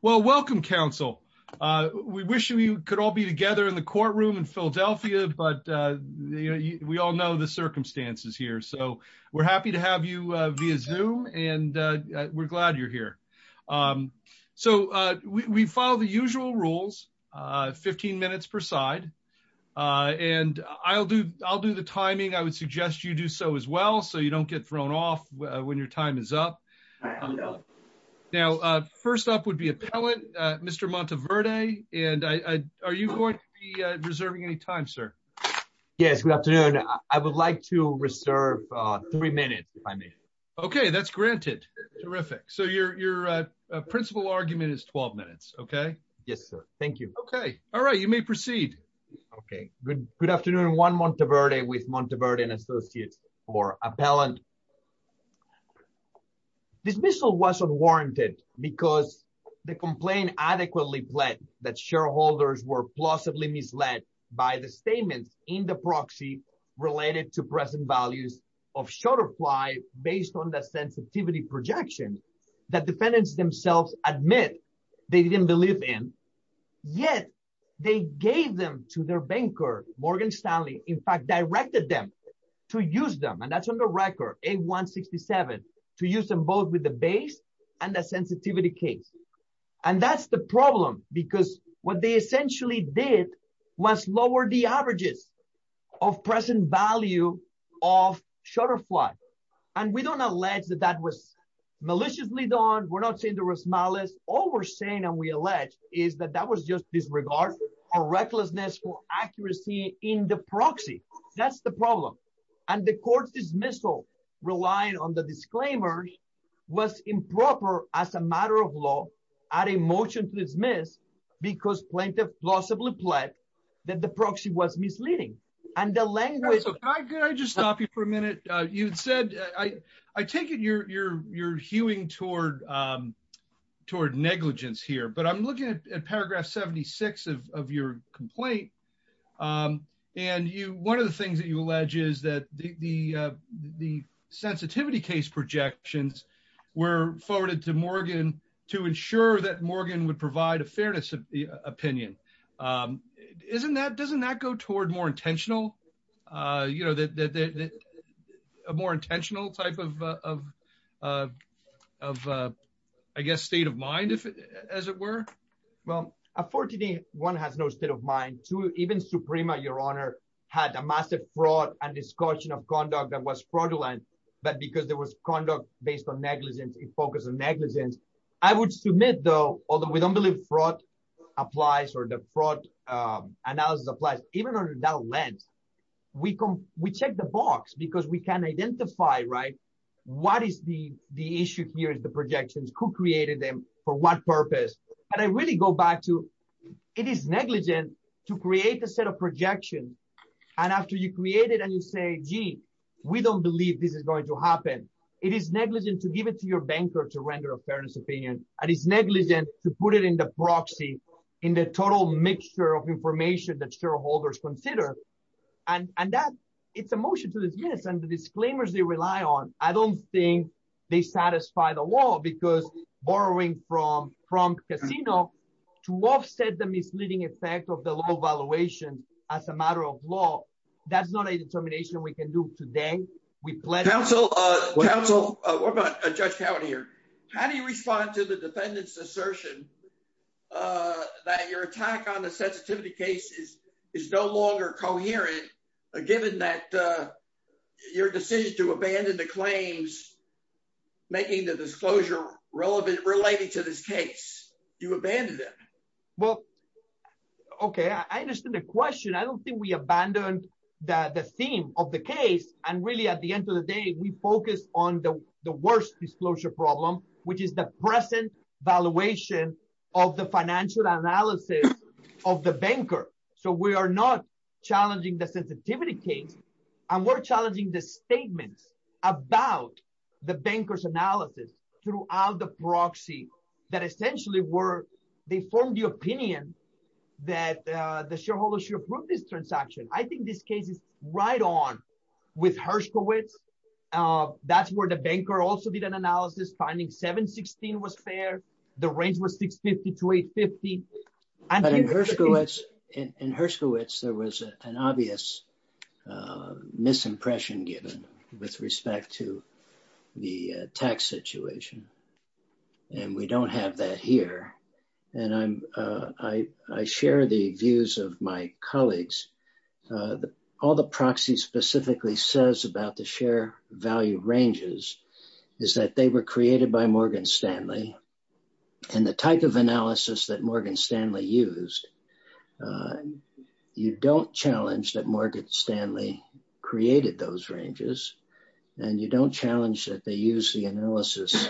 Well, welcome council. We wish we could all be together in the courtroom in Philadelphia, but we all know the circumstances here so we're happy to have you via zoom and we're glad you're here. So, we follow the usual rules 15 minutes per side. And I'll do, I'll do the timing I would suggest you do so as well so you don't get thrown off when your time is up. Now, first up would be a pellet. Mr Monteverde, and I, are you going to be reserving any time, sir. Yes, good afternoon. I would like to reserve three minutes if I may. Okay, that's granted. Terrific. So your, your principal argument is 12 minutes. Okay. Yes, sir. Thank you. Okay. All right, you may proceed. Okay, good, good afternoon one Monteverde with Monteverde and associates, or appellant dismissal wasn't warranted, because the complaint adequately pled that shareholders were plausibly misled by the statements in the proxy related to present values of short apply based on the sensitivity projection that defendants themselves, admit, they didn't believe in. Yet, they gave them to their banker, Morgan Stanley, in fact directed them to use them and that's on the record, a 167 to use them both with the base and the sensitivity case. And that's the problem, because what they essentially did was lower the averages of present value of shutterfly. And we don't allege that that was maliciously done, we're not saying there was malice, all we're saying and we allege is that that was just disregard or recklessness for accuracy in the proxy. That's the problem. And the court dismissal relying on the disclaimer was improper as a matter of law, adding motion to dismiss because plaintiff plausibly pled that the proxy was misleading and the language. I just stopped you for a minute, you said, I, I take it you're you're you're hewing toward toward negligence here but I'm looking at paragraph 76 of your complaint. And you, one of the things that you allege is that the, the, the sensitivity case projections were forwarded to Morgan to ensure that Morgan would provide a fairness of the opinion. Isn't that doesn't that go toward more intentional, you know that a more intentional type of, of, of, I guess state of mind if, as it were. Well, a 14 day one has no state of mind to even Suprema Your Honor had a massive fraud and discussion of conduct that was fraudulent, but because there was conduct based on negligence in focus on negligence. I would submit though, although we don't believe fraud applies or the fraud analysis applies, even under that lens. We can we check the box because we can identify right. What is the, the issue here is the projections who created them for what purpose, but I really go back to it is negligent to create a set of projection. And after you create it and you say, gee, we don't believe this is going to happen. It is negligent to give it to your banker to render a fairness opinion, and it's negligent to put it in the proxy in the total mixture of information that shareholders And, and that it's a motion to this. Yes, and the disclaimers they rely on. I don't think they satisfy the law because borrowing from from casino to offset the misleading effect of the low valuation as a matter of law. That's not a determination we can do today. We plan counsel counsel judge county here. How do you respond to the defendant's assertion that your attack on the sensitivity cases is no longer coherent, given that your decision to abandon the claims, making the disclosure relevant related to this case. Well, okay. I understand the question. I don't think we abandoned the theme of the case. And really, at the end of the day, we focus on the worst disclosure problem, which is the present valuation of the financial analysis of the banker. So we are not challenging the sensitivity case. And we're challenging the statements about the bankers analysis throughout the proxy that essentially were they formed the opinion that the shareholder should approve this transaction. I think this case is right on with Hershowitz. That's where the banker also did an analysis finding 716 was fair. The range was 650 to 850. In Hershowitz, there was an obvious misimpression given with respect to the tax situation. And we don't have that here. And I'm, I share the views of my colleagues. All the proxies specifically says about the share value ranges is that they were created by Morgan Stanley and the type of analysis that Morgan Stanley used. You don't challenge that Morgan Stanley created those ranges. And you don't challenge that they use the analysis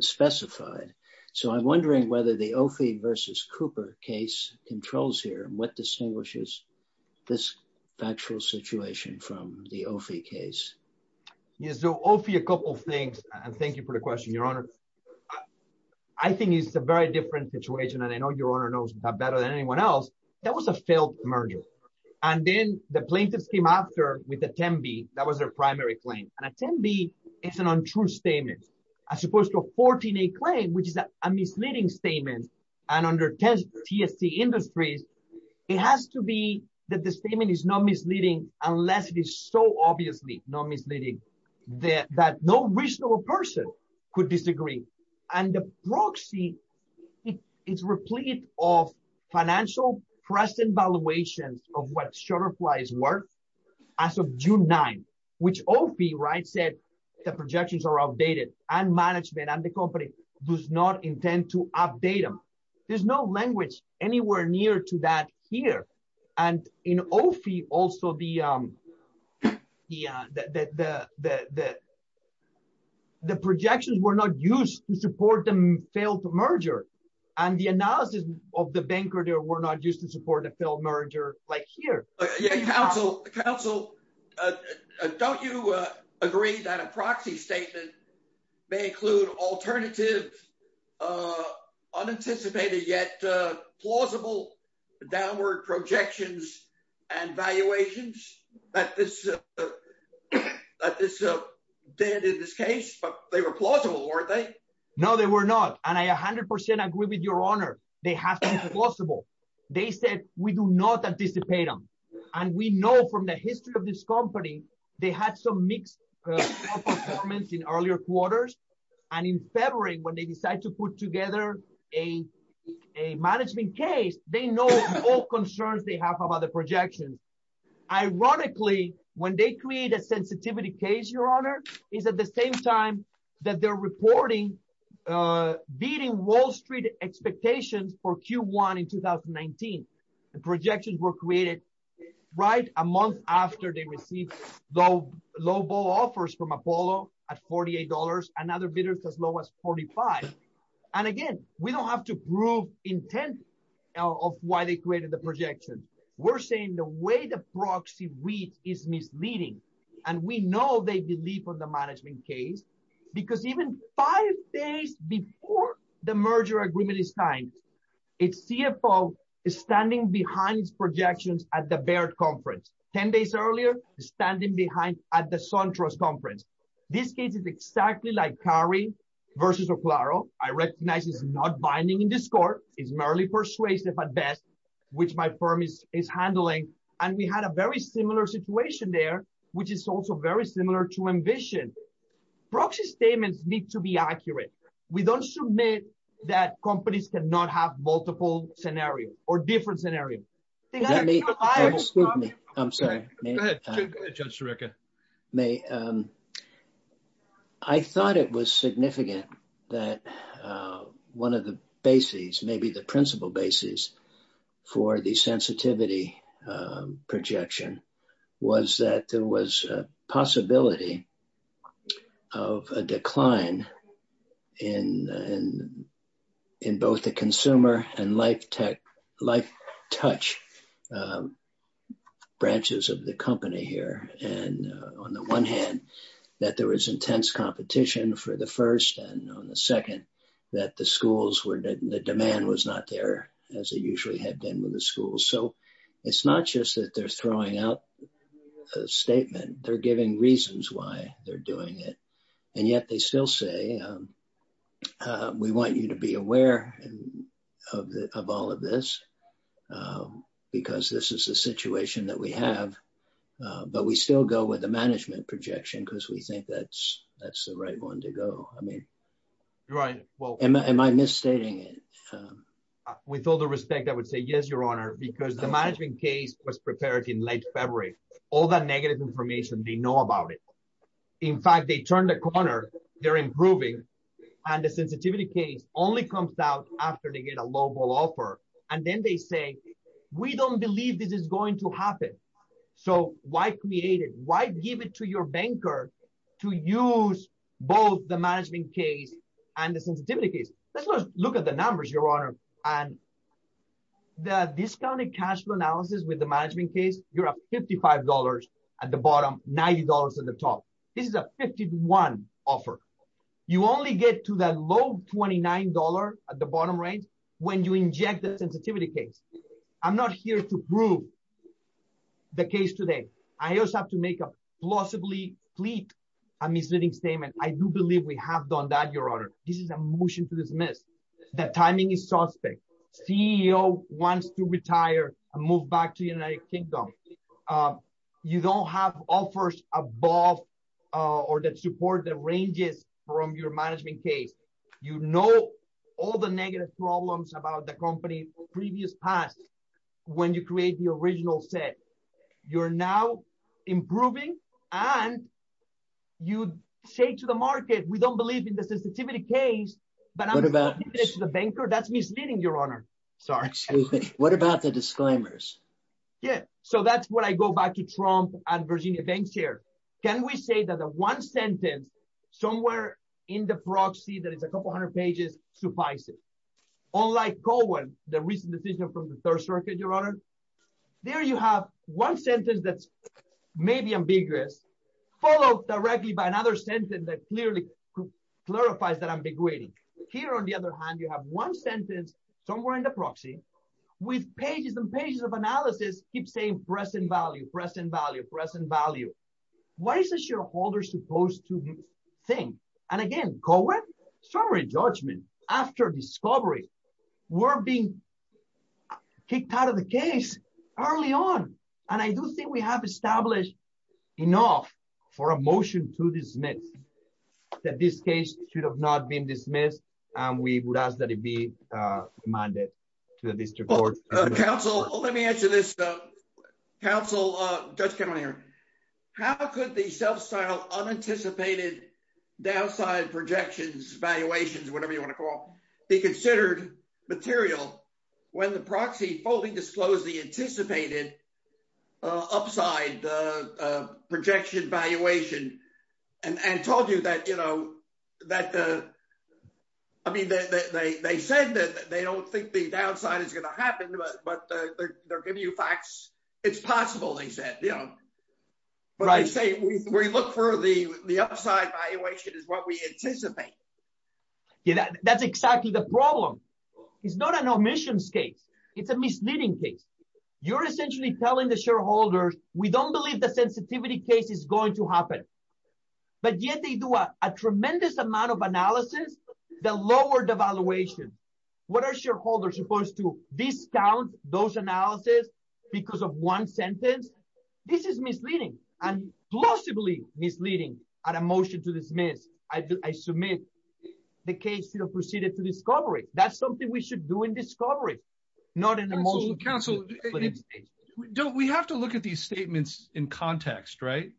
specified. So I'm wondering whether the OFI versus Cooper case controls here and what distinguishes this factual situation from the OFI case. Yes, so OFI a couple of things. And thank you for the question, Your Honor. I think it's a very different situation. And I know Your Honor knows that better than anyone else. That was a failed merger. And then the plaintiffs came after with a 10B. That was their primary claim. And a 10B is an untrue statement as opposed to a 14A claim, which is a misleading statement. And under TST Industries, it has to be that the statement is not misleading, unless it is so obviously not misleading that no reasonable person could disagree. And the proxy is replete of financial precedent valuations of what Shutterfly's worth as of June 9, which OFI said the projections are updated and management and the company does not intend to update them. There's no language anywhere near to that here. And in OFI also the projections were not used to support the failed merger. And the analysis of the banker there were not used to support a failed merger like here. Counsel, don't you agree that a proxy statement may include alternative, unanticipated, yet plausible downward projections and valuations that this did in this case? But they were plausible, weren't they? No, they were not. And I 100% agree with your honor. They have been plausible. They said we do not anticipate them. And we know from the history of this company, they had some mixed performance in earlier quarters. And in February, when they decide to put together a management case, they know all concerns they have about the projections. Ironically, when they create a sensitivity case, your honor, is at the same time that they're reporting beating Wall Street expectations for Q1 in 2019. The projections were created right a month after they received low offers from Apollo at $48 and other bidders as low as $45. And again, we don't have to prove intent of why they created the projection. We're saying the way the proxy reads is misleading. And we know they believe on the management case, because even five days before the merger agreement is signed, its CFO is standing behind its projections at the Baird conference. Ten days earlier, standing behind at the SunTrust conference. This case is exactly like Cary versus O'Claro. I recognize it's not binding in this court. It's merely persuasive at best, which my firm is handling. And we had a very similar situation there, which is also very similar to ambition. Proxy statements need to be accurate. We don't submit that companies cannot have multiple scenarios or different scenarios. Excuse me. I'm sorry. Go ahead, Judge Sirica. I thought it was significant that one of the bases, maybe the principal basis for the sensitivity projection was that there was a possibility of a decline in both the consumer and life touch branches of the company here. And on the one hand, that there was intense competition for the first and on the second, that the demand was not there as it usually had been with the schools. So it's not just that they're throwing out a statement. They're giving reasons why they're doing it. And yet they still say, we want you to be aware of all of this because this is a situation that we have. But we still go with the management projection because we think that's the right one to go. I mean, am I misstating it? With all the respect, I would say yes, Your Honor, because the management case was prepared in late February. All that negative information, they know about it. In fact, they turned a corner. They're improving. And the sensitivity case only comes out after they get a local offer. And then they say, we don't believe this is going to happen. So why create it? Why give it to your banker to use both the management case and the sensitivity case? Let's look at the numbers, Your Honor. And the discounted cash flow analysis with the management case, you're up $55 at the bottom, $90 at the top. This is a 51 offer. You only get to that low $29 at the bottom range when you inject the sensitivity case. I'm not here to prove the case today. I also have to make a plausibly fleet a misleading statement. I do believe we have done that, Your Honor. This is a motion to dismiss. The timing is suspect. CEO wants to retire and move back to the United Kingdom. You don't have offers above or that support the ranges from your management case. You know all the negative problems about the company's previous past when you create the original set. You're now improving, and you say to the market, we don't believe in the sensitivity case, but I'm giving it to the banker. That's misleading, Your Honor. What about the disclaimers? With pages and pages of analysis, keep saying present value, present value, present value. Why is the shareholder supposed to think? And again, co-ed, summary judgment, after discovery, we're being kicked out of the case early on. And I do think we have established enough for a motion to dismiss that this case should have not been dismissed, and we would ask that it be demanded to the district court. Counsel, let me answer this. Counsel, Judge Kennedy, how could the self-styled unanticipated downside projections, valuations, whatever you want to call it, be considered material when the proxy fully disclosed the anticipated upside projection valuation and told you that, you know, that the. I mean, they said that they don't think the downside is going to happen, but they're giving you facts. It's possible, they said, you know. But I say we look for the upside valuation is what we anticipate. That's exactly the problem. It's not an omissions case. It's a misleading case. You're essentially telling the shareholders, we don't believe the sensitivity case is going to happen. But yet they do a tremendous amount of analysis, the lower devaluation. What are shareholders supposed to discount those analysis because of one sentence? This is misleading and plausibly misleading at a motion to dismiss. I submit the case proceeded to discovery. That's something we should do in discovery, not in the motion. Counsel, we have to look at these statements in context, right?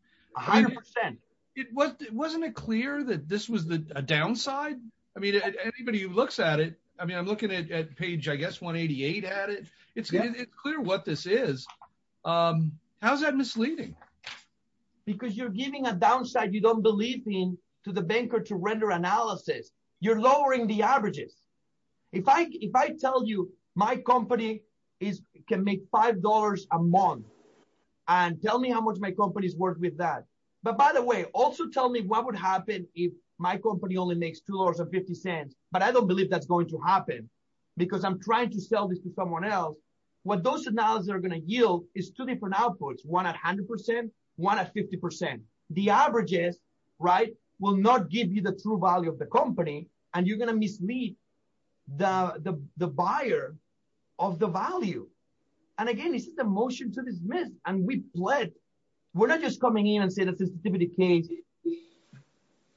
It wasn't it clear that this was the downside? I mean, anybody who looks at it, I mean, I'm looking at page, I guess, 188 at it. It's clear what this is. How's that misleading? Because you're giving a downside you don't believe in to the banker to render analysis, you're lowering the averages. If I if I tell you my company is can make five dollars a month and tell me how much my company's worth with that. But by the way, also tell me what would happen if my company only makes two dollars and 50 cents. But I don't believe that's going to happen because I'm trying to sell this to someone else. What those analysis are going to yield is two different outputs, one at 100 percent, one at 50 percent. The averages, right, will not give you the true value of the company and you're going to mislead the buyer of the value. And again, this is the motion to dismiss. And we pled. We're not just coming in and say this is the case.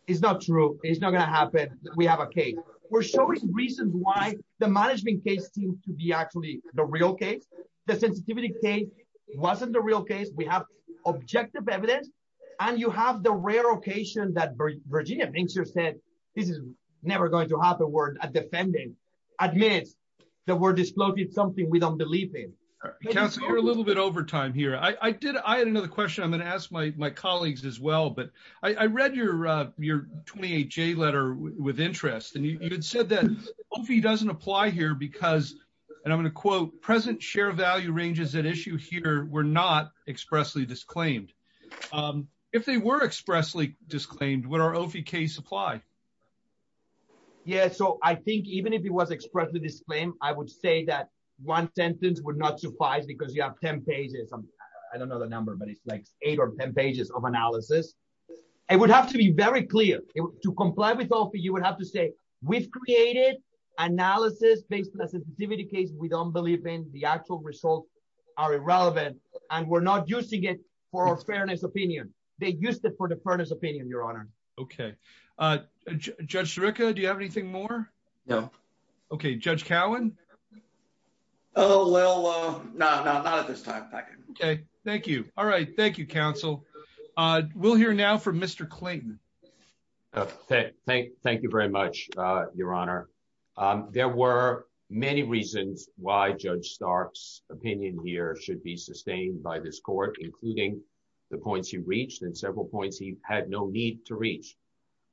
It's not true. It's not going to happen. We have a case. We're showing reasons why the management case seems to be actually the real case. The sensitivity case wasn't the real case. We have objective evidence. And you have the rare occasion that Virginia thinks you said this is never going to happen. We're defending admits that we're disclosing something we don't believe in. We're a little bit over time here. I did. I had another question. I'm going to ask my colleagues as well. But I read your your 28 J letter with interest. And you said that he doesn't apply here because and I'm going to quote present share value ranges that issue here. We're not expressly disclaimed if they were expressly disclaimed what our case apply. Yeah, so I think even if it was expressed with this claim, I would say that one sentence would not suffice because you have 10 pages. I don't know the number, but it's like eight or 10 pages of analysis. I would have to be very clear to comply with all for you would have to say we've created analysis based on a sensitivity case. We don't believe in the actual results are irrelevant. And we're not using it for our fairness opinion. They used it for the furnace opinion, Your Honor. Okay. Judge Rica. Do you have anything more. No. Okay, Judge Cowen. Oh, well, no, no, not at this time. Okay, thank you. All right. Thank you, counsel. We'll hear now from Mr Clayton. Thank you very much, Your Honor. There were many reasons why Judge Starks opinion here should be sustained by this court, including the points you reached and several points he had no need to reach.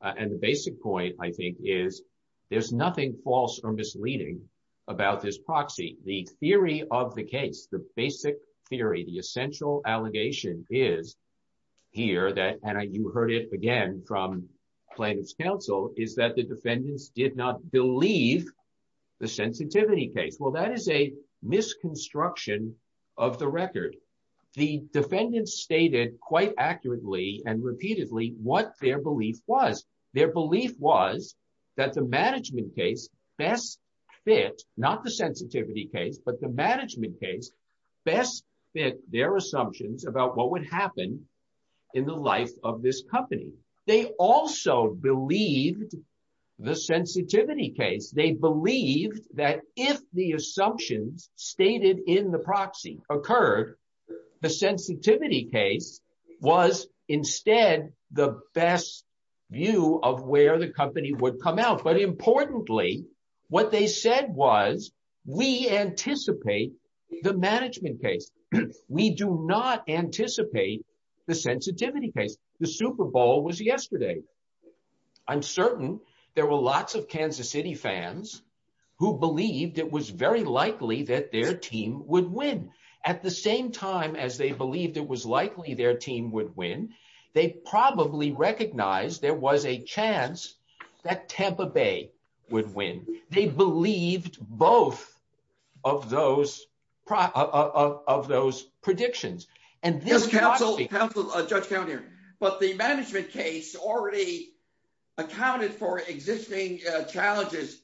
And the basic point, I think, is there's nothing false or misleading about this proxy, the theory of the case, the basic theory, the essential allegation is here that and I you heard it again from plaintiff's counsel is that the defendants did not believe the sensitivity case. Well, that is a misconstruction of the record. The defendants stated quite accurately and repeatedly what their belief was. Their belief was that the management case best fit, not the sensitivity case, but the management case best fit their assumptions about what would happen in the life of this company. They also believed the sensitivity case. They believed that if the assumptions stated in the proxy occurred, the sensitivity case was instead the best view of where the company would come out. But importantly, what they said was, we anticipate the management case. We do not anticipate the sensitivity case. The Super Bowl was yesterday. I'm certain there were lots of Kansas City fans who believed it was very likely that their team would win at the same time as they believed it was likely their team would win. They probably recognized there was a chance that Tampa Bay would win. They believed both of those of those predictions. And this counsel counsel Judge County, but the management case already accounted for existing challenges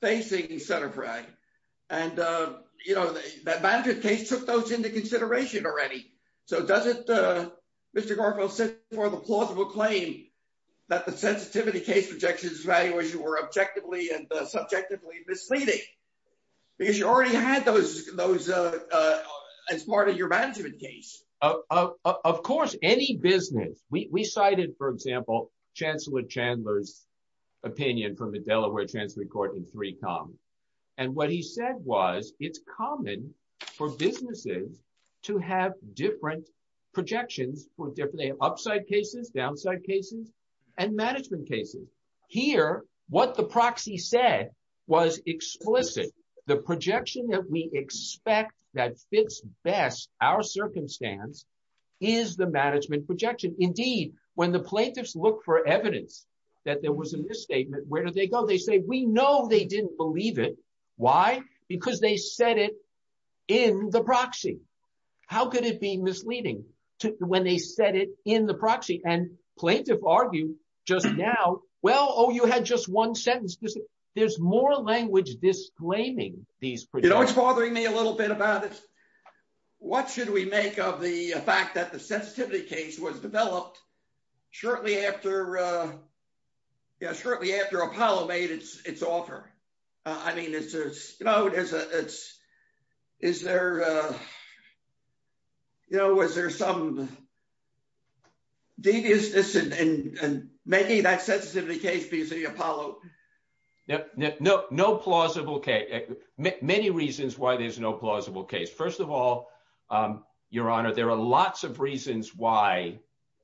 facing center. Right. And, you know, the case took those into consideration already. So does it. Mr. Garfield said for the plausible claim that the sensitivity case projections valuation were objectively and subjectively misleading because you already had those those as part of your management case. Of course, any business we cited, for example, Chancellor Chandler's opinion from the Delaware Chancellery Court in three com. And what he said was, it's common for businesses to have different projections for different upside cases, downside cases and management cases. Here, what the proxy said was explicit. The projection that we expect that fits best our circumstance is the management projection. Indeed, when the plaintiffs look for evidence that there was a misstatement, where do they go? They say, we know they didn't believe it. Why? Because they said it in the proxy. How could it be misleading to when they said it in the proxy and plaintiff argue just now? Well, oh, you had just one sentence. There's more language disclaiming these. You know, it's bothering me a little bit about it. What should we make of the fact that the sensitivity case was developed shortly after? Yes, shortly after Apollo made its offer. I mean, it's, you know, it's, it's, is there, you know, was there some deviousness in making that sensitivity case because of the Apollo? No, no, no plausible case. Many reasons why there's no plausible case. First of all, Your Honor, there are lots of reasons why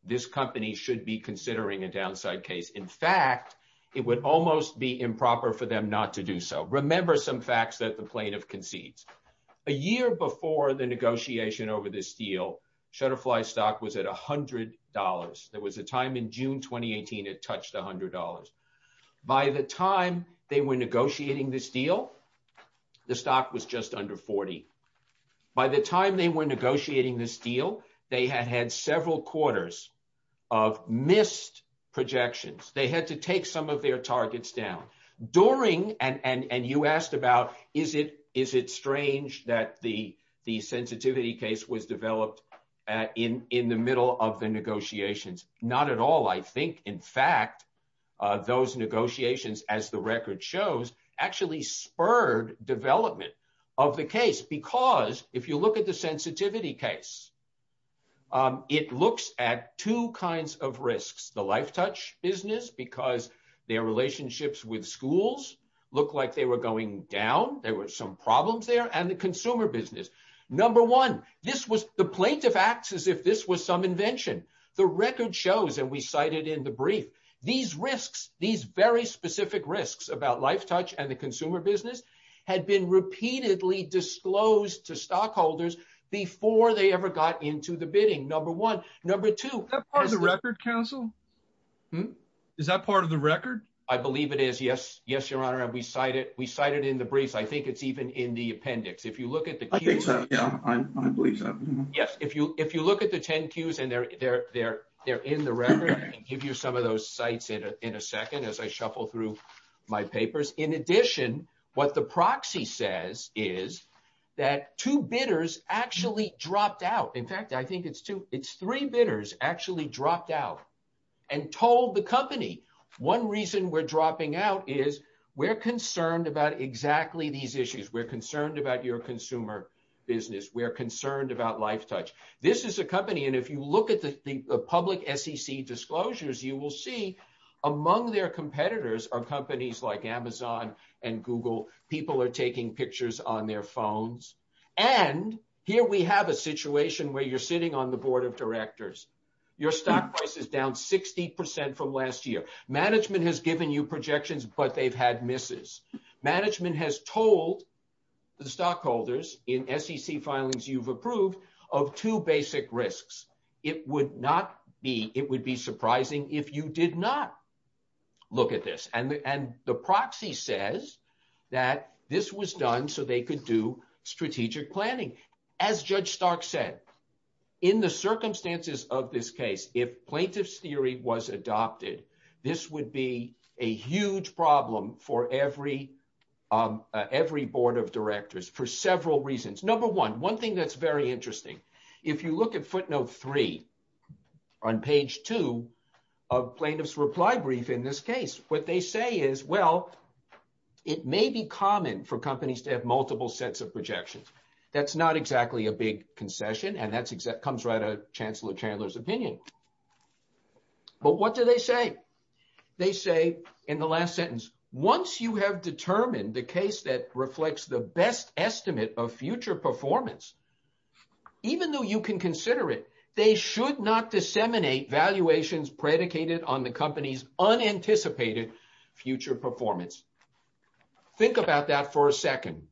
this company should be considering a downside case. In fact, it would almost be improper for them not to do so. Remember some facts that the plaintiff concedes. A year before the negotiation over this deal, Shutterfly stock was at $100. There was a time in June 2018 it touched $100. By the time they were negotiating this deal, the stock was just under $40. By the time they were negotiating this deal, they had had several quarters of missed projections. They had to take some of their targets down. During, and you asked about, is it strange that the sensitivity case was developed in the middle of the negotiations? Not at all. I think, in fact, those negotiations, as the record shows, actually spurred development of the case because if you look at the sensitivity case, it looks at two kinds of risks. One is the consumer business because their relationships with schools look like they were going down. There were some problems there. And the consumer business. Number one, this was, the plaintiff acts as if this was some invention. The record shows, and we cited in the brief, these risks, these very specific risks about LifeTouch and the consumer business had been repeatedly disclosed to stockholders before they ever got into the bidding, number one. Is that part of the record, counsel? Is that part of the record? I believe it is. Yes. Yes, Your Honor. And we cite it. We cite it in the briefs. I think it's even in the appendix. If you look at the. I think so. Yeah, I believe so. Yes, if you if you look at the 10 cues and they're there, they're in the record and give you some of those sites in a second as I shuffle through my papers. In addition, what the proxy says is that two bidders actually dropped out. In fact, I think it's two. It's three bidders actually dropped out and told the company one reason we're dropping out is we're concerned about exactly these issues. We're concerned about your consumer business. We're concerned about LifeTouch. This is a company. And if you look at the public SEC disclosures, you will see among their competitors are companies like Amazon and Google. People are taking pictures on their phones. And here we have a situation where you're sitting on the board of directors. Your stock price is down 60 percent from last year. Management has given you projections, but they've had misses. Management has told the stockholders in SEC filings you've approved of two basic risks. It would not be it would be surprising if you did not look at this. And the proxy says that this was done so they could do strategic planning, as Judge Stark said, in the circumstances of this case, if plaintiffs theory was adopted, this would be a huge problem for every every board of directors for several reasons. Number one, one thing that's very interesting. If you look at footnote three on page two of plaintiff's reply brief in this case, what they say is, well, it may be common for companies to have multiple sets of projections. That's not exactly a big concession. And that comes right out of Chancellor Chandler's opinion. But what do they say? They say in the last sentence, once you have determined the case that reflects the best estimate of future performance, even though you can consider it, they should not disseminate valuations predicated on the company's unanticipated future performance. Think about that for a second.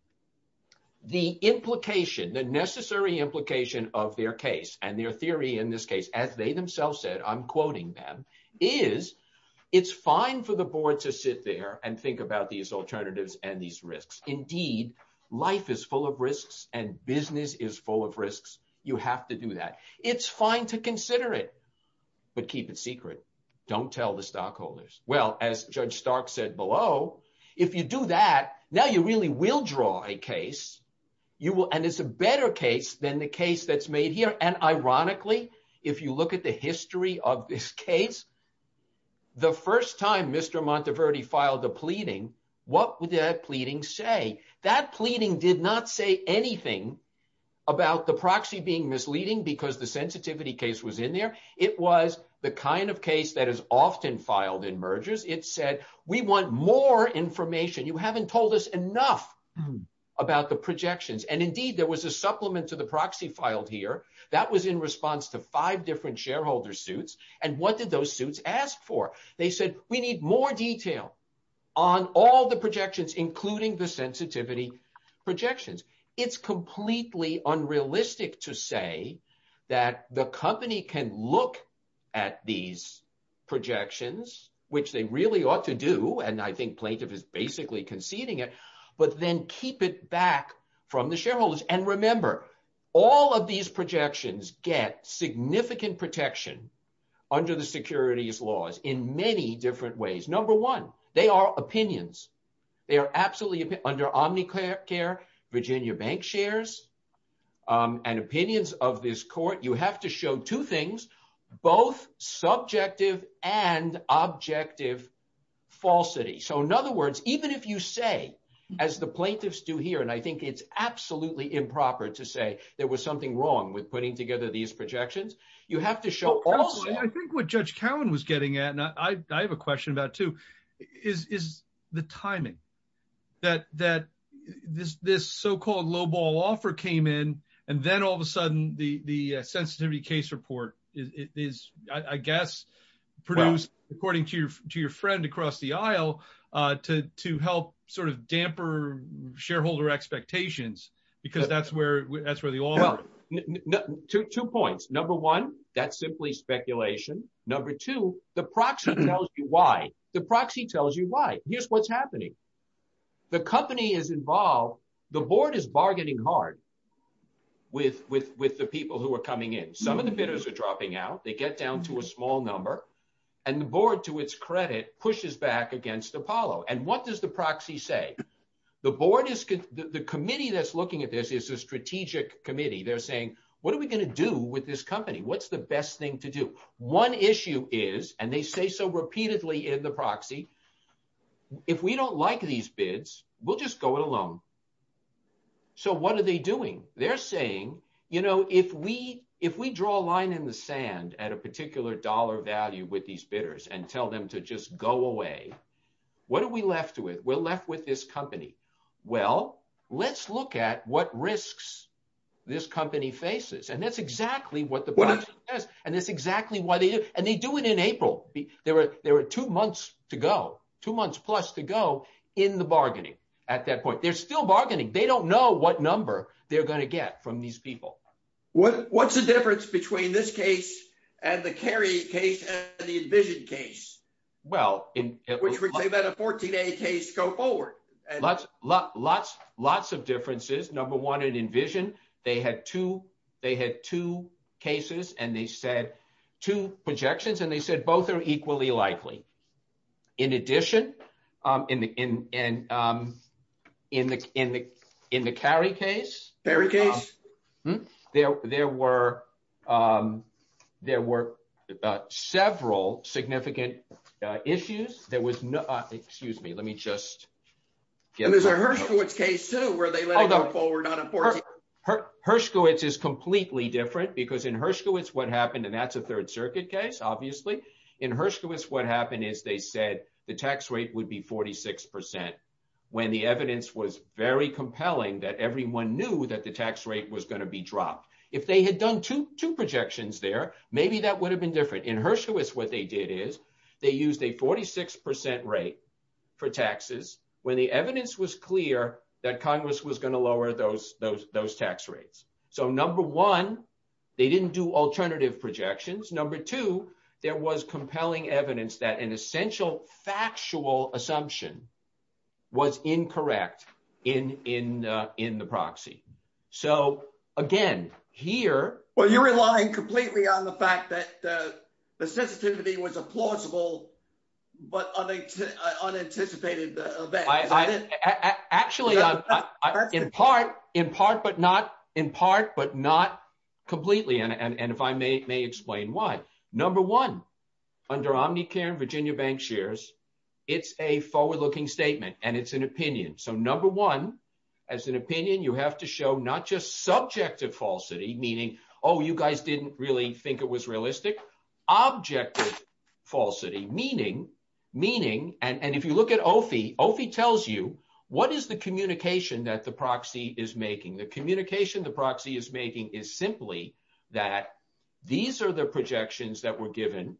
The implication, the necessary implication of their case and their theory in this case, as they themselves said, I'm quoting them, is it's fine for the board to sit there and think about these alternatives and these risks. Indeed, life is full of risks and business is full of risks. You have to do that. It's fine to consider it. But keep it secret. Don't tell the stockholders. Well, as Judge Stark said below, if you do that now, you really will draw a case. You will. And it's a better case than the case that's made here. And ironically, if you look at the history of this case. The first time Mr. Monteverdi filed a pleading, what would that pleading say? That pleading did not say anything about the proxy being misleading because the sensitivity case was in there. It was the kind of case that is often filed in mergers. It said we want more information. You haven't told us enough about the projections. And indeed, there was a supplement to the proxy filed here that was in response to five different shareholder suits. And what did those suits ask for? They said we need more detail on all the projections, including the sensitivity projections. It's completely unrealistic to say that the company can look at these projections, which they really ought to do. And I think plaintiff is basically conceding it. But then keep it back from the shareholders. And remember, all of these projections get significant protection under the securities laws in many different ways. Number one, they are opinions. They are absolutely under Omnicare, Virginia bank shares and opinions of this court. You have to show two things, both subjective and objective falsity. So in other words, even if you say, as the plaintiffs do here, and I think it's absolutely improper to say there was something wrong with putting together these projections, you have to show. I think what Judge Cowan was getting at, and I have a question about too, is the timing. That this so-called lowball offer came in, and then all of a sudden the sensitivity case report is, I guess, produced according to your friend across the aisle to help sort of damper shareholder expectations, because that's where they all are. Two points. Number one, that's simply speculation. Number two, the proxy tells you why. The proxy tells you why. Here's what's happening. The company is involved. The board is bargaining hard with the people who are coming in. Some of the bidders are dropping out. They get down to a small number. And the board, to its credit, pushes back against Apollo. And what does the proxy say? The committee that's looking at this is a strategic committee. They're saying, what are we going to do with this company? What's the best thing to do? One issue is, and they say so repeatedly in the proxy, if we don't like these bids, we'll just go it alone. So what are they doing? They're saying, if we draw a line in the sand at a particular dollar value with these bidders and tell them to just go away, what are we left with? We're left with this company. Well, let's look at what risks this company faces. And that's exactly what the proxy says, and that's exactly why they do it. Even in April, there were two months to go, two months plus to go in the bargaining at that point. They're still bargaining. They don't know what number they're going to get from these people. What's the difference between this case and the Cary case and the Envision case? Which would say that a 14A case, go forward. Lots of differences. Number one, in Envision, they had two cases and they said two projections, and they said both are equally likely. In addition, in the Cary case, there were several significant issues. And there's a Hershkowitz case, too, where they let it go forward on a 14A. Hershkowitz is completely different because in Hershkowitz, what happened, and that's a Third Circuit case, obviously. In Hershkowitz, what happened is they said the tax rate would be 46% when the evidence was very compelling that everyone knew that the tax rate was going to be dropped. If they had done two projections there, maybe that would have been different. In Hershkowitz, what they did is they used a 46% rate for taxes when the evidence was clear that Congress was going to lower those tax rates. So, number one, they didn't do alternative projections. Number two, there was compelling evidence that an essential factual assumption was incorrect in the proxy. So, again, here… Well, you're relying completely on the fact that the sensitivity was a plausible but unanticipated event. Actually, in part, but not completely, and if I may explain why. Number one, under Omnicare and Virginia Bank shares, it's a forward-looking statement and it's an opinion. So, number one, as an opinion, you have to show not just subjective falsity, meaning, oh, you guys didn't really think it was realistic. Objective falsity, meaning, and if you look at OFI, OFI tells you what is the communication that the proxy is making. The communication the proxy is making is simply that these are the projections that were given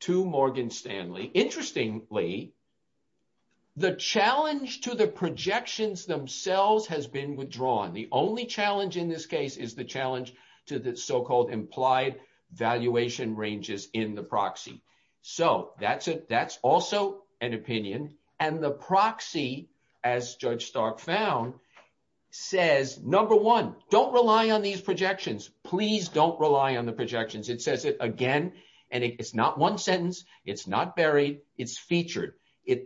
to Morgan Stanley. Interestingly, the challenge to the projections themselves has been withdrawn. The only challenge in this case is the challenge to the so-called implied valuation ranges in the proxy. So, that's also an opinion. And the proxy, as Judge Stark found, says, number one, don't rely on these projections. Please don't rely on the projections. It says it again, and it's not one sentence. It's not buried. It's featured.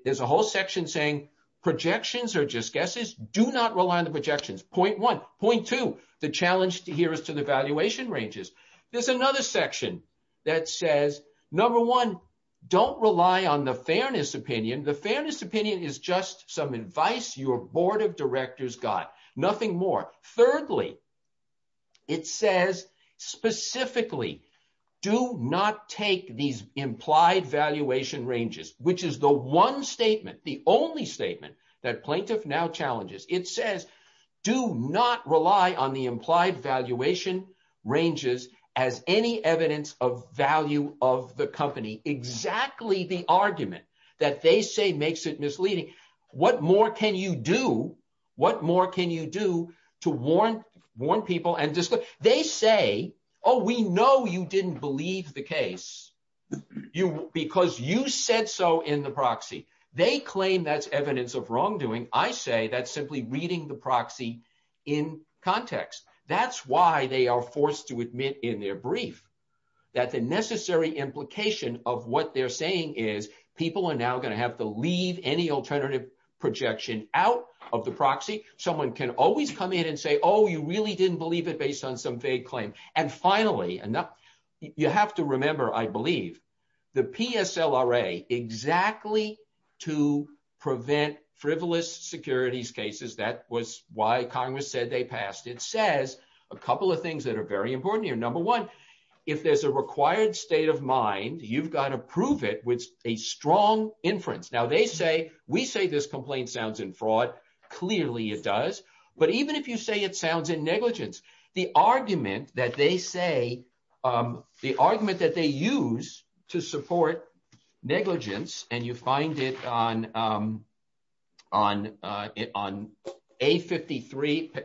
There's a whole section saying projections are just guesses. Do not rely on the projections. Point one. Point two, the challenge here is to the valuation ranges. There's another section that says, number one, don't rely on the fairness opinion. The fairness opinion is just some advice your board of directors got. Nothing more. Thirdly, it says, specifically, do not take these implied valuation ranges, which is the one statement, the only statement, that Plaintiff now challenges. It says, do not rely on the implied valuation ranges as any evidence of value of the company. Exactly the argument that they say makes it misleading. What more can you do? What more can you do to warn people? They say, oh, we know you didn't believe the case because you said so in the proxy. They claim that's evidence of wrongdoing. I say that's simply reading the proxy in context. That's why they are forced to admit in their brief that the necessary implication of what they're saying is people are now going to have to leave any alternative projection out of the proxy. Someone can always come in and say, oh, you really didn't believe it based on some vague claim. And finally, you have to remember, I believe, the PSLRA, exactly to prevent frivolous securities cases, that was why Congress said they passed. It says a couple of things that are very important here. Number one, if there's a required state of mind, you've got to prove it with a strong inference. Now, they say, we say this complaint sounds in fraud. Clearly, it does. But even if you say it sounds in negligence, the argument that they say, the argument that they use to support negligence, and you find it on A53,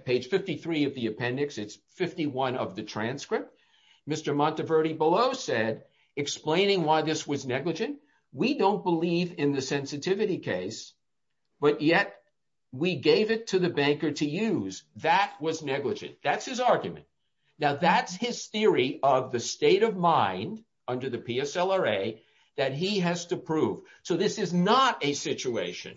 page 53, of the appendix, it's 51 of the transcript. Mr. Monteverdi below said, explaining why this was negligent, we don't believe in the sensitivity case. But yet, we gave it to the banker to use. That was negligent. That's his argument. Now, that's his theory of the state of mind under the PSLRA that he has to prove. So this is not a situation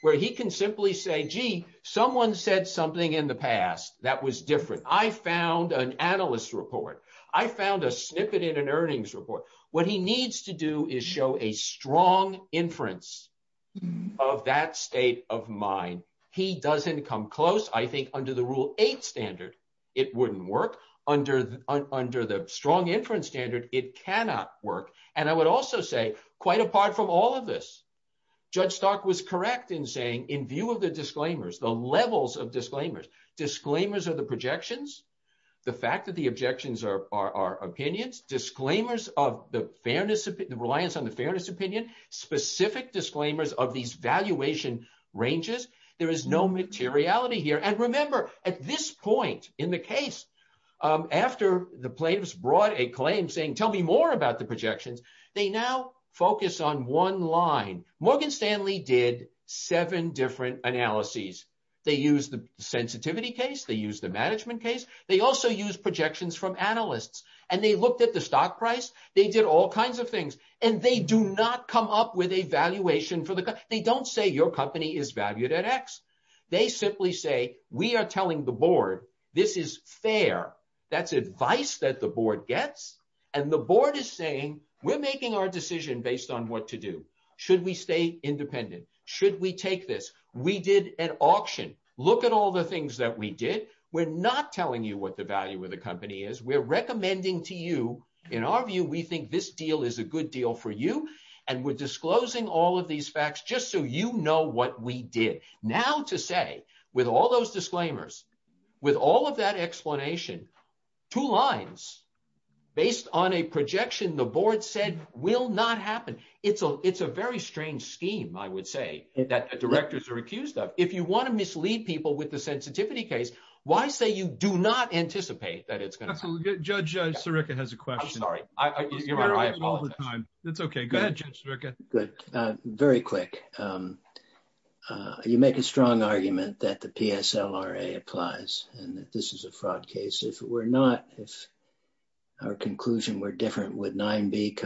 where he can simply say, gee, someone said something in the past that was different. I found an analyst report. I found a snippet in an earnings report. What he needs to do is show a strong inference of that state of mind. He doesn't come close. I think under the Rule 8 standard, it wouldn't work. Under the strong inference standard, it cannot work. And I would also say, quite apart from all of this, Judge Stark was correct in saying, in view of the disclaimers, the levels of disclaimers, disclaimers of the projections, the fact that the objections are opinions, disclaimers of the reliance on the fairness opinion, specific disclaimers of these valuation ranges, there is no materiality here. And remember, at this point in the case, after the plaintiffs brought a claim saying, tell me more about the projections, they now focus on one line. Morgan Stanley did seven different analyses. They used the sensitivity case. They used the management case. They also used projections from analysts. And they looked at the stock price. They did all kinds of things. And they do not come up with a valuation for the company. They don't say, your company is valued at x. They simply say, we are telling the board, this is fair. That's advice that the board gets. And the board is saying, we're making our decision based on what to do. Should we stay independent? Should we take this? We did an auction. Look at all the things that we did. We're not telling you what the value of the company is. We're recommending to you, in our view, we think this deal is a good deal for you. And we're disclosing all of these facts just so you know what we did. Now to say, with all those disclaimers, with all of that explanation, two lines based on a projection the board said will not happen. It's a very strange scheme, I would say, that directors are accused of. If you want to mislead people with the sensitivity case, why say you do not anticipate that it's going to happen? Judge Sirica has a question. I'm sorry. I apologize. That's OK. Go ahead, Judge Sirica. Very quick. You make a strong argument that the PSLRA applies and that this is a fraud case. If we're not, if our conclusion were different, would Rule 9b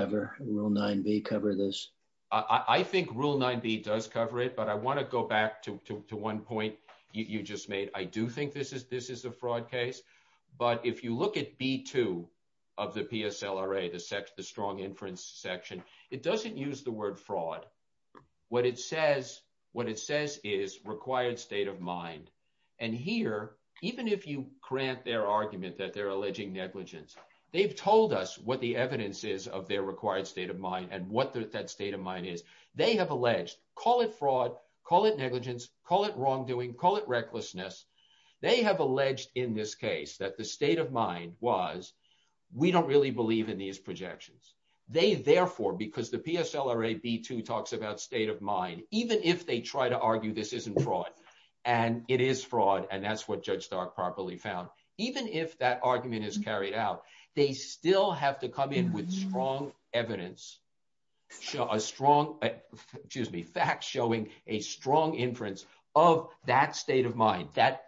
cover this? I think Rule 9b does cover it. But I want to go back to one point you just made. I do think this is a fraud case. But if you look at B2 of the PSLRA, the strong inference section, it doesn't use the word fraud. What it says is required state of mind. And here, even if you grant their argument that they're alleging negligence, they've told us what the evidence is of their required state of mind and what that state of mind is. They have alleged, call it fraud, call it negligence, call it wrongdoing, call it recklessness. They have alleged in this case that the state of mind was we don't really believe in these projections. They therefore, because the PSLRA B2 talks about state of mind, even if they try to argue this isn't fraud, and it is fraud, and that's what Judge Stark properly found, even if that argument is carried out, they still have to come in with strong evidence. Facts showing a strong inference of that state of mind, that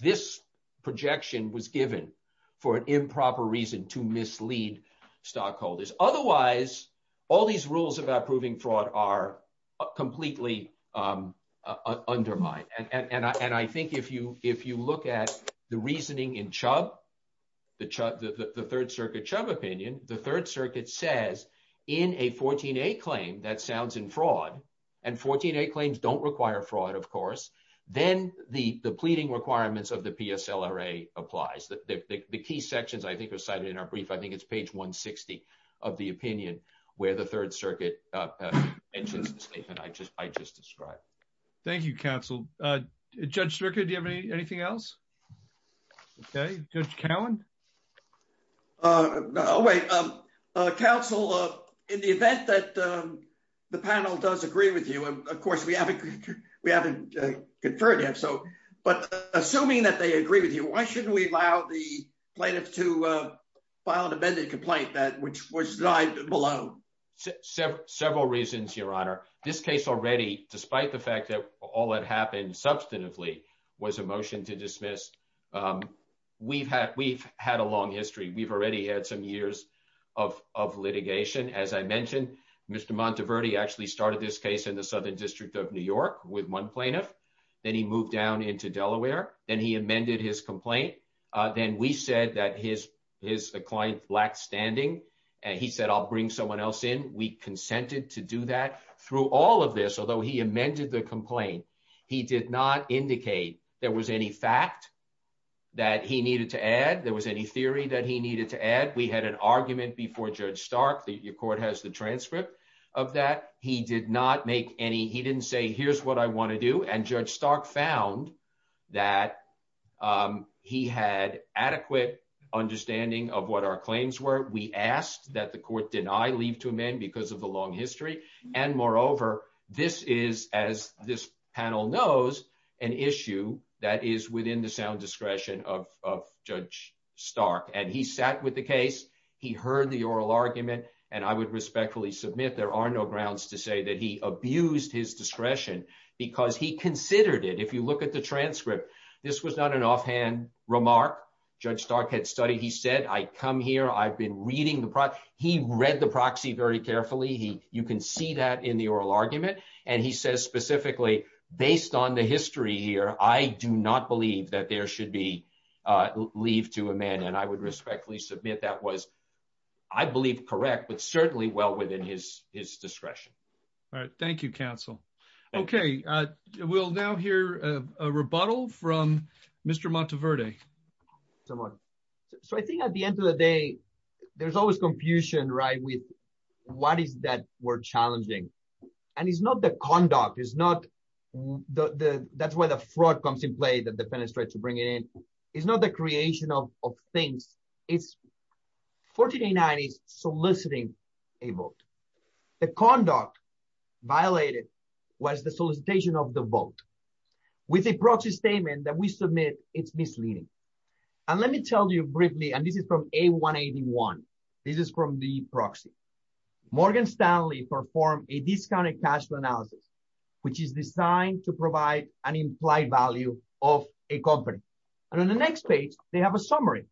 this projection was given for an improper reason to mislead stockholders. Otherwise, all these rules about proving fraud are completely undermined. And I think if you look at the reasoning in Chubb, the Third Circuit Chubb opinion, the Third Circuit says in a 14A claim that sounds in fraud, and 14A claims don't require fraud, of course, then the pleading requirements of the PSLRA applies. The key sections I think are cited in our brief, I think it's page 160 of the opinion where the Third Circuit mentions the statement I just described. Thank you, counsel. Judge Strickland, do you have anything else? Okay, Judge Cowan? Oh, wait. Counsel, in the event that the panel does agree with you, of course, we haven't conferred yet, but assuming that they agree with you, why shouldn't we allow the plaintiff to file an amended complaint that was denied below? Several reasons, Your Honor. This case already, despite the fact that all that happened substantively, was a motion to dismiss. We've had a long history. We've already had some years of litigation. As I mentioned, Mr. Monteverdi actually started this case in the Southern District of New York with one plaintiff. Then he moved down into Delaware. Then he amended his complaint. Then we said that his client's black standing, and he said, I'll bring someone else in. We consented to do that. Through all of this, although he amended the complaint, he did not indicate there was any fact that he needed to add, there was any theory that he needed to add. We had an argument before Judge Stark. The court has the transcript of that. He didn't say, here's what I want to do, and Judge Stark found that he had adequate understanding of what our claims were. We asked that the court deny, leave to amend because of the long history. Moreover, this is, as this panel knows, an issue that is within the sound discretion of Judge Stark. He sat with the case. He heard the oral argument, and I would respectfully submit there are no grounds to say that he abused his discretion because he considered it. If you look at the transcript, this was not an offhand remark. Judge Stark had studied. He said, I come here. I've been reading the proxy. He read the proxy very carefully. You can see that in the oral argument. He says specifically, based on the history here, I do not believe that there should be leave to amend. I would respectfully submit that was, I believe, correct, but certainly well within his discretion. All right. Thank you, counsel. Okay, we'll now hear a rebuttal from Mr. Monteverde. So I think at the end of the day, there's always confusion, right, with what is that we're challenging. And it's not the conduct. It's not the, that's where the fraud comes in play that the penitentiary to bring it in. It's not the creation of things. It's 1489 is soliciting a vote. The conduct violated was the solicitation of the vote with a proxy statement that we submit it's misleading. And let me tell you briefly, and this is from a 181. This is from the proxy. Morgan Stanley perform a discounted cash flow analysis, which is designed to provide an implied value of a company. And on the next page, they have a summary.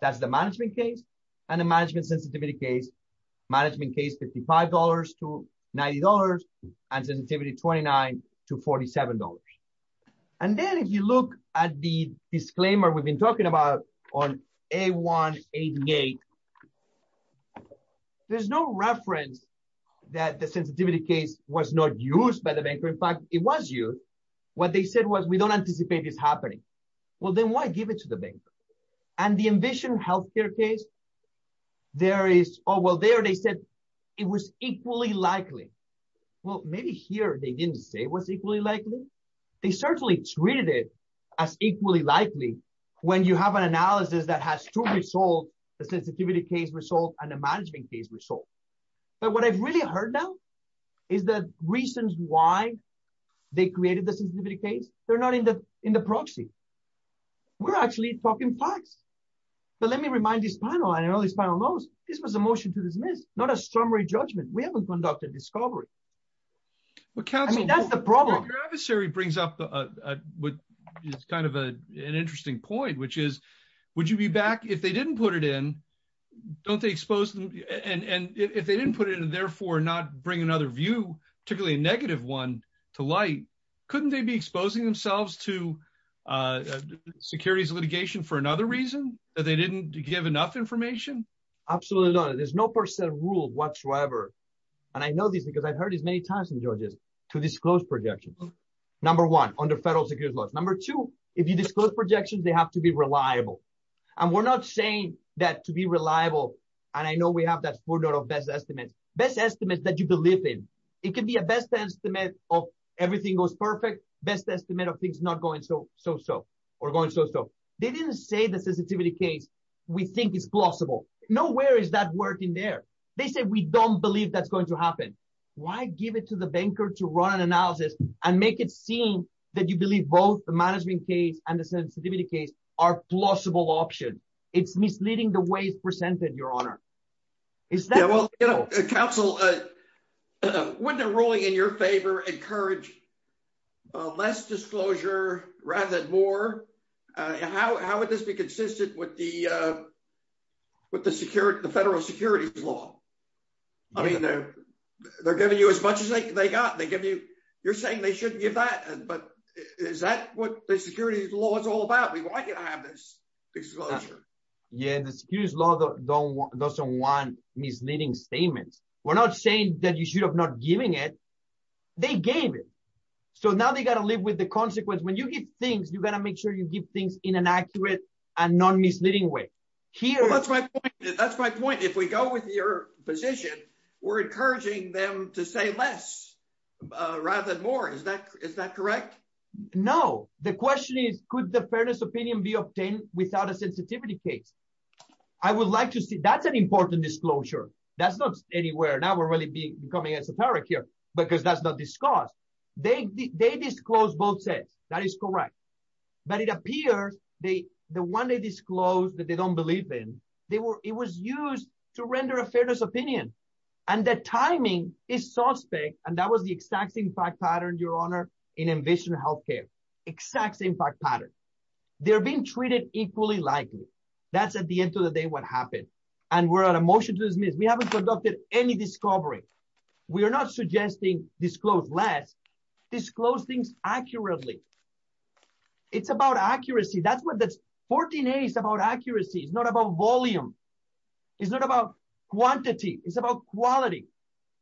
That's the management case and the management sensitivity case management case $55 to $90 and sensitivity 29 to $47. And then if you look at the disclaimer we've been talking about on a 188. There's no reference that the sensitivity case was not used by the banker in fact it was you. What they said was we don't anticipate is happening. Well then why give it to the bank. And the ambition healthcare case. There is, oh well there they said it was equally likely. Well, maybe here they didn't say was equally likely. They certainly treated it as equally likely when you have an analysis that has to be sold the sensitivity case result and the management case result. But what I've really heard now is the reasons why they created the sensitivity case, they're not in the, in the proxy. We're actually talking facts. But let me remind this panel I know this panel knows this was a motion to dismiss, not a stormy judgment we haven't conducted discovery. That's the problem adversary brings up what is kind of a, an interesting point which is, would you be back if they didn't put it in. Don't they expose them, and if they didn't put it in and therefore not bring another view, particularly a negative one to light. Couldn't they be exposing themselves to securities litigation for another reason that they didn't give enough information. Absolutely not. There's no percent rule whatsoever. And I know this because I've heard as many times in Georgia's to disclose projections. Number one, under federal security laws. Number two, if you disclose projections they have to be reliable. And we're not saying that to be reliable. And I know we have that footnote of best estimates, best estimates that you believe in, it can be a best estimate of everything goes perfect best estimate of things not going so so so we're going so so they didn't say the sensitivity case. We think is plausible. Nowhere is that working there. They said we don't believe that's going to happen. Why give it to the banker to run an analysis and make it seem that you believe both the management case and the sensitivity case are plausible option. It's misleading the way it's presented your honor. Is that well, you know, counsel. I mean, they're, they're giving you as much as they got they give you, you're saying they shouldn't give that, but is that what the security laws all about we want you to have this disclosure. Yeah, this huge lot of don't want doesn't want misleading statements. We're not saying that you should have not giving it. They gave it. So now they got to live with the consequence when you get things you got to make sure you give things in an accurate and non misleading way here that's my, that's my point if we go with your position. We're encouraging them to say less. Rather than more is that is that correct. No, the question is, could the fairness opinion be obtained without a sensitivity case. I would like to see that's an important disclosure. That's not anywhere now we're really being coming as a parent here, because that's not discussed. They, they disclose both said that is correct. But it appears, they, the one they disclose that they don't believe in, they were, it was used to render a fairness opinion, and that timing is suspect, and that was the exact same fact pattern your honor in ambition healthcare exact same fact pattern. They're being treated equally likely. That's at the end of the day what happened. And we're at a motion to dismiss we haven't conducted any discovery. We are not suggesting disclose less disclose things accurately. It's about accuracy that's what that's 14 days about accuracy is not about volume is not about quantity is about quality,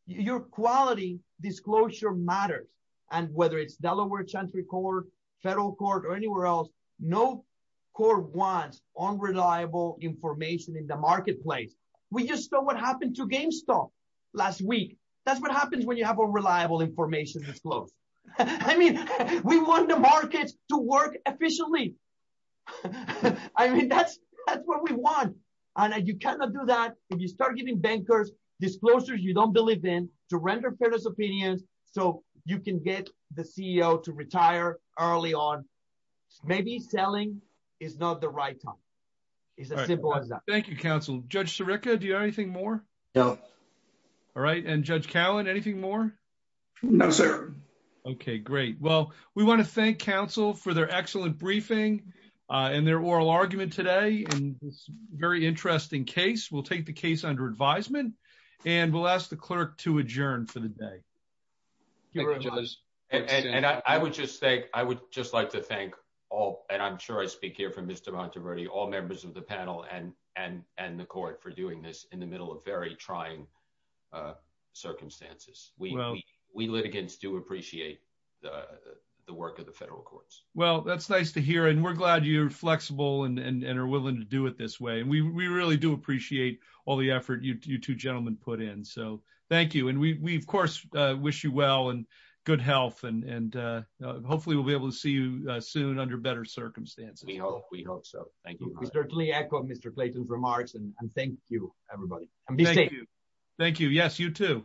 your quality disclosure matters. And whether it's Delaware country court federal court or anywhere else. No court wants on reliable information in the marketplace. We just saw what happened to GameStop last week. That's what happens when you have a reliable information disclose. I mean, we want the markets to work efficiently. I mean, that's, that's what we want. And you cannot do that. If you start giving bankers disclosures you don't believe in to render fairness opinions, so you can get the CEO to retire early on. Maybe selling is not the right time. It's a simple as that. Thank you, counsel, Judge Sirica Do you have anything more. No. And their oral argument today and very interesting case will take the case under advisement, and we'll ask the clerk to adjourn for the day. And I would just say, I would just like to thank all and I'm sure I speak here from Mr Monteverdi all members of the panel and, and, and the court for doing this in the middle of very trying circumstances, we, we litigants do appreciate the work of the federal courts. Well, that's nice to hear and we're glad you're flexible and are willing to do it this way and we really do appreciate all the effort you two gentlemen put in so thank you and we of course wish you well and good health and hopefully we'll be able to see you soon under better circumstances. We hope so. Thank you. We certainly echo Mr Clayton's remarks and thank you, everybody. Thank you. Yes, you too.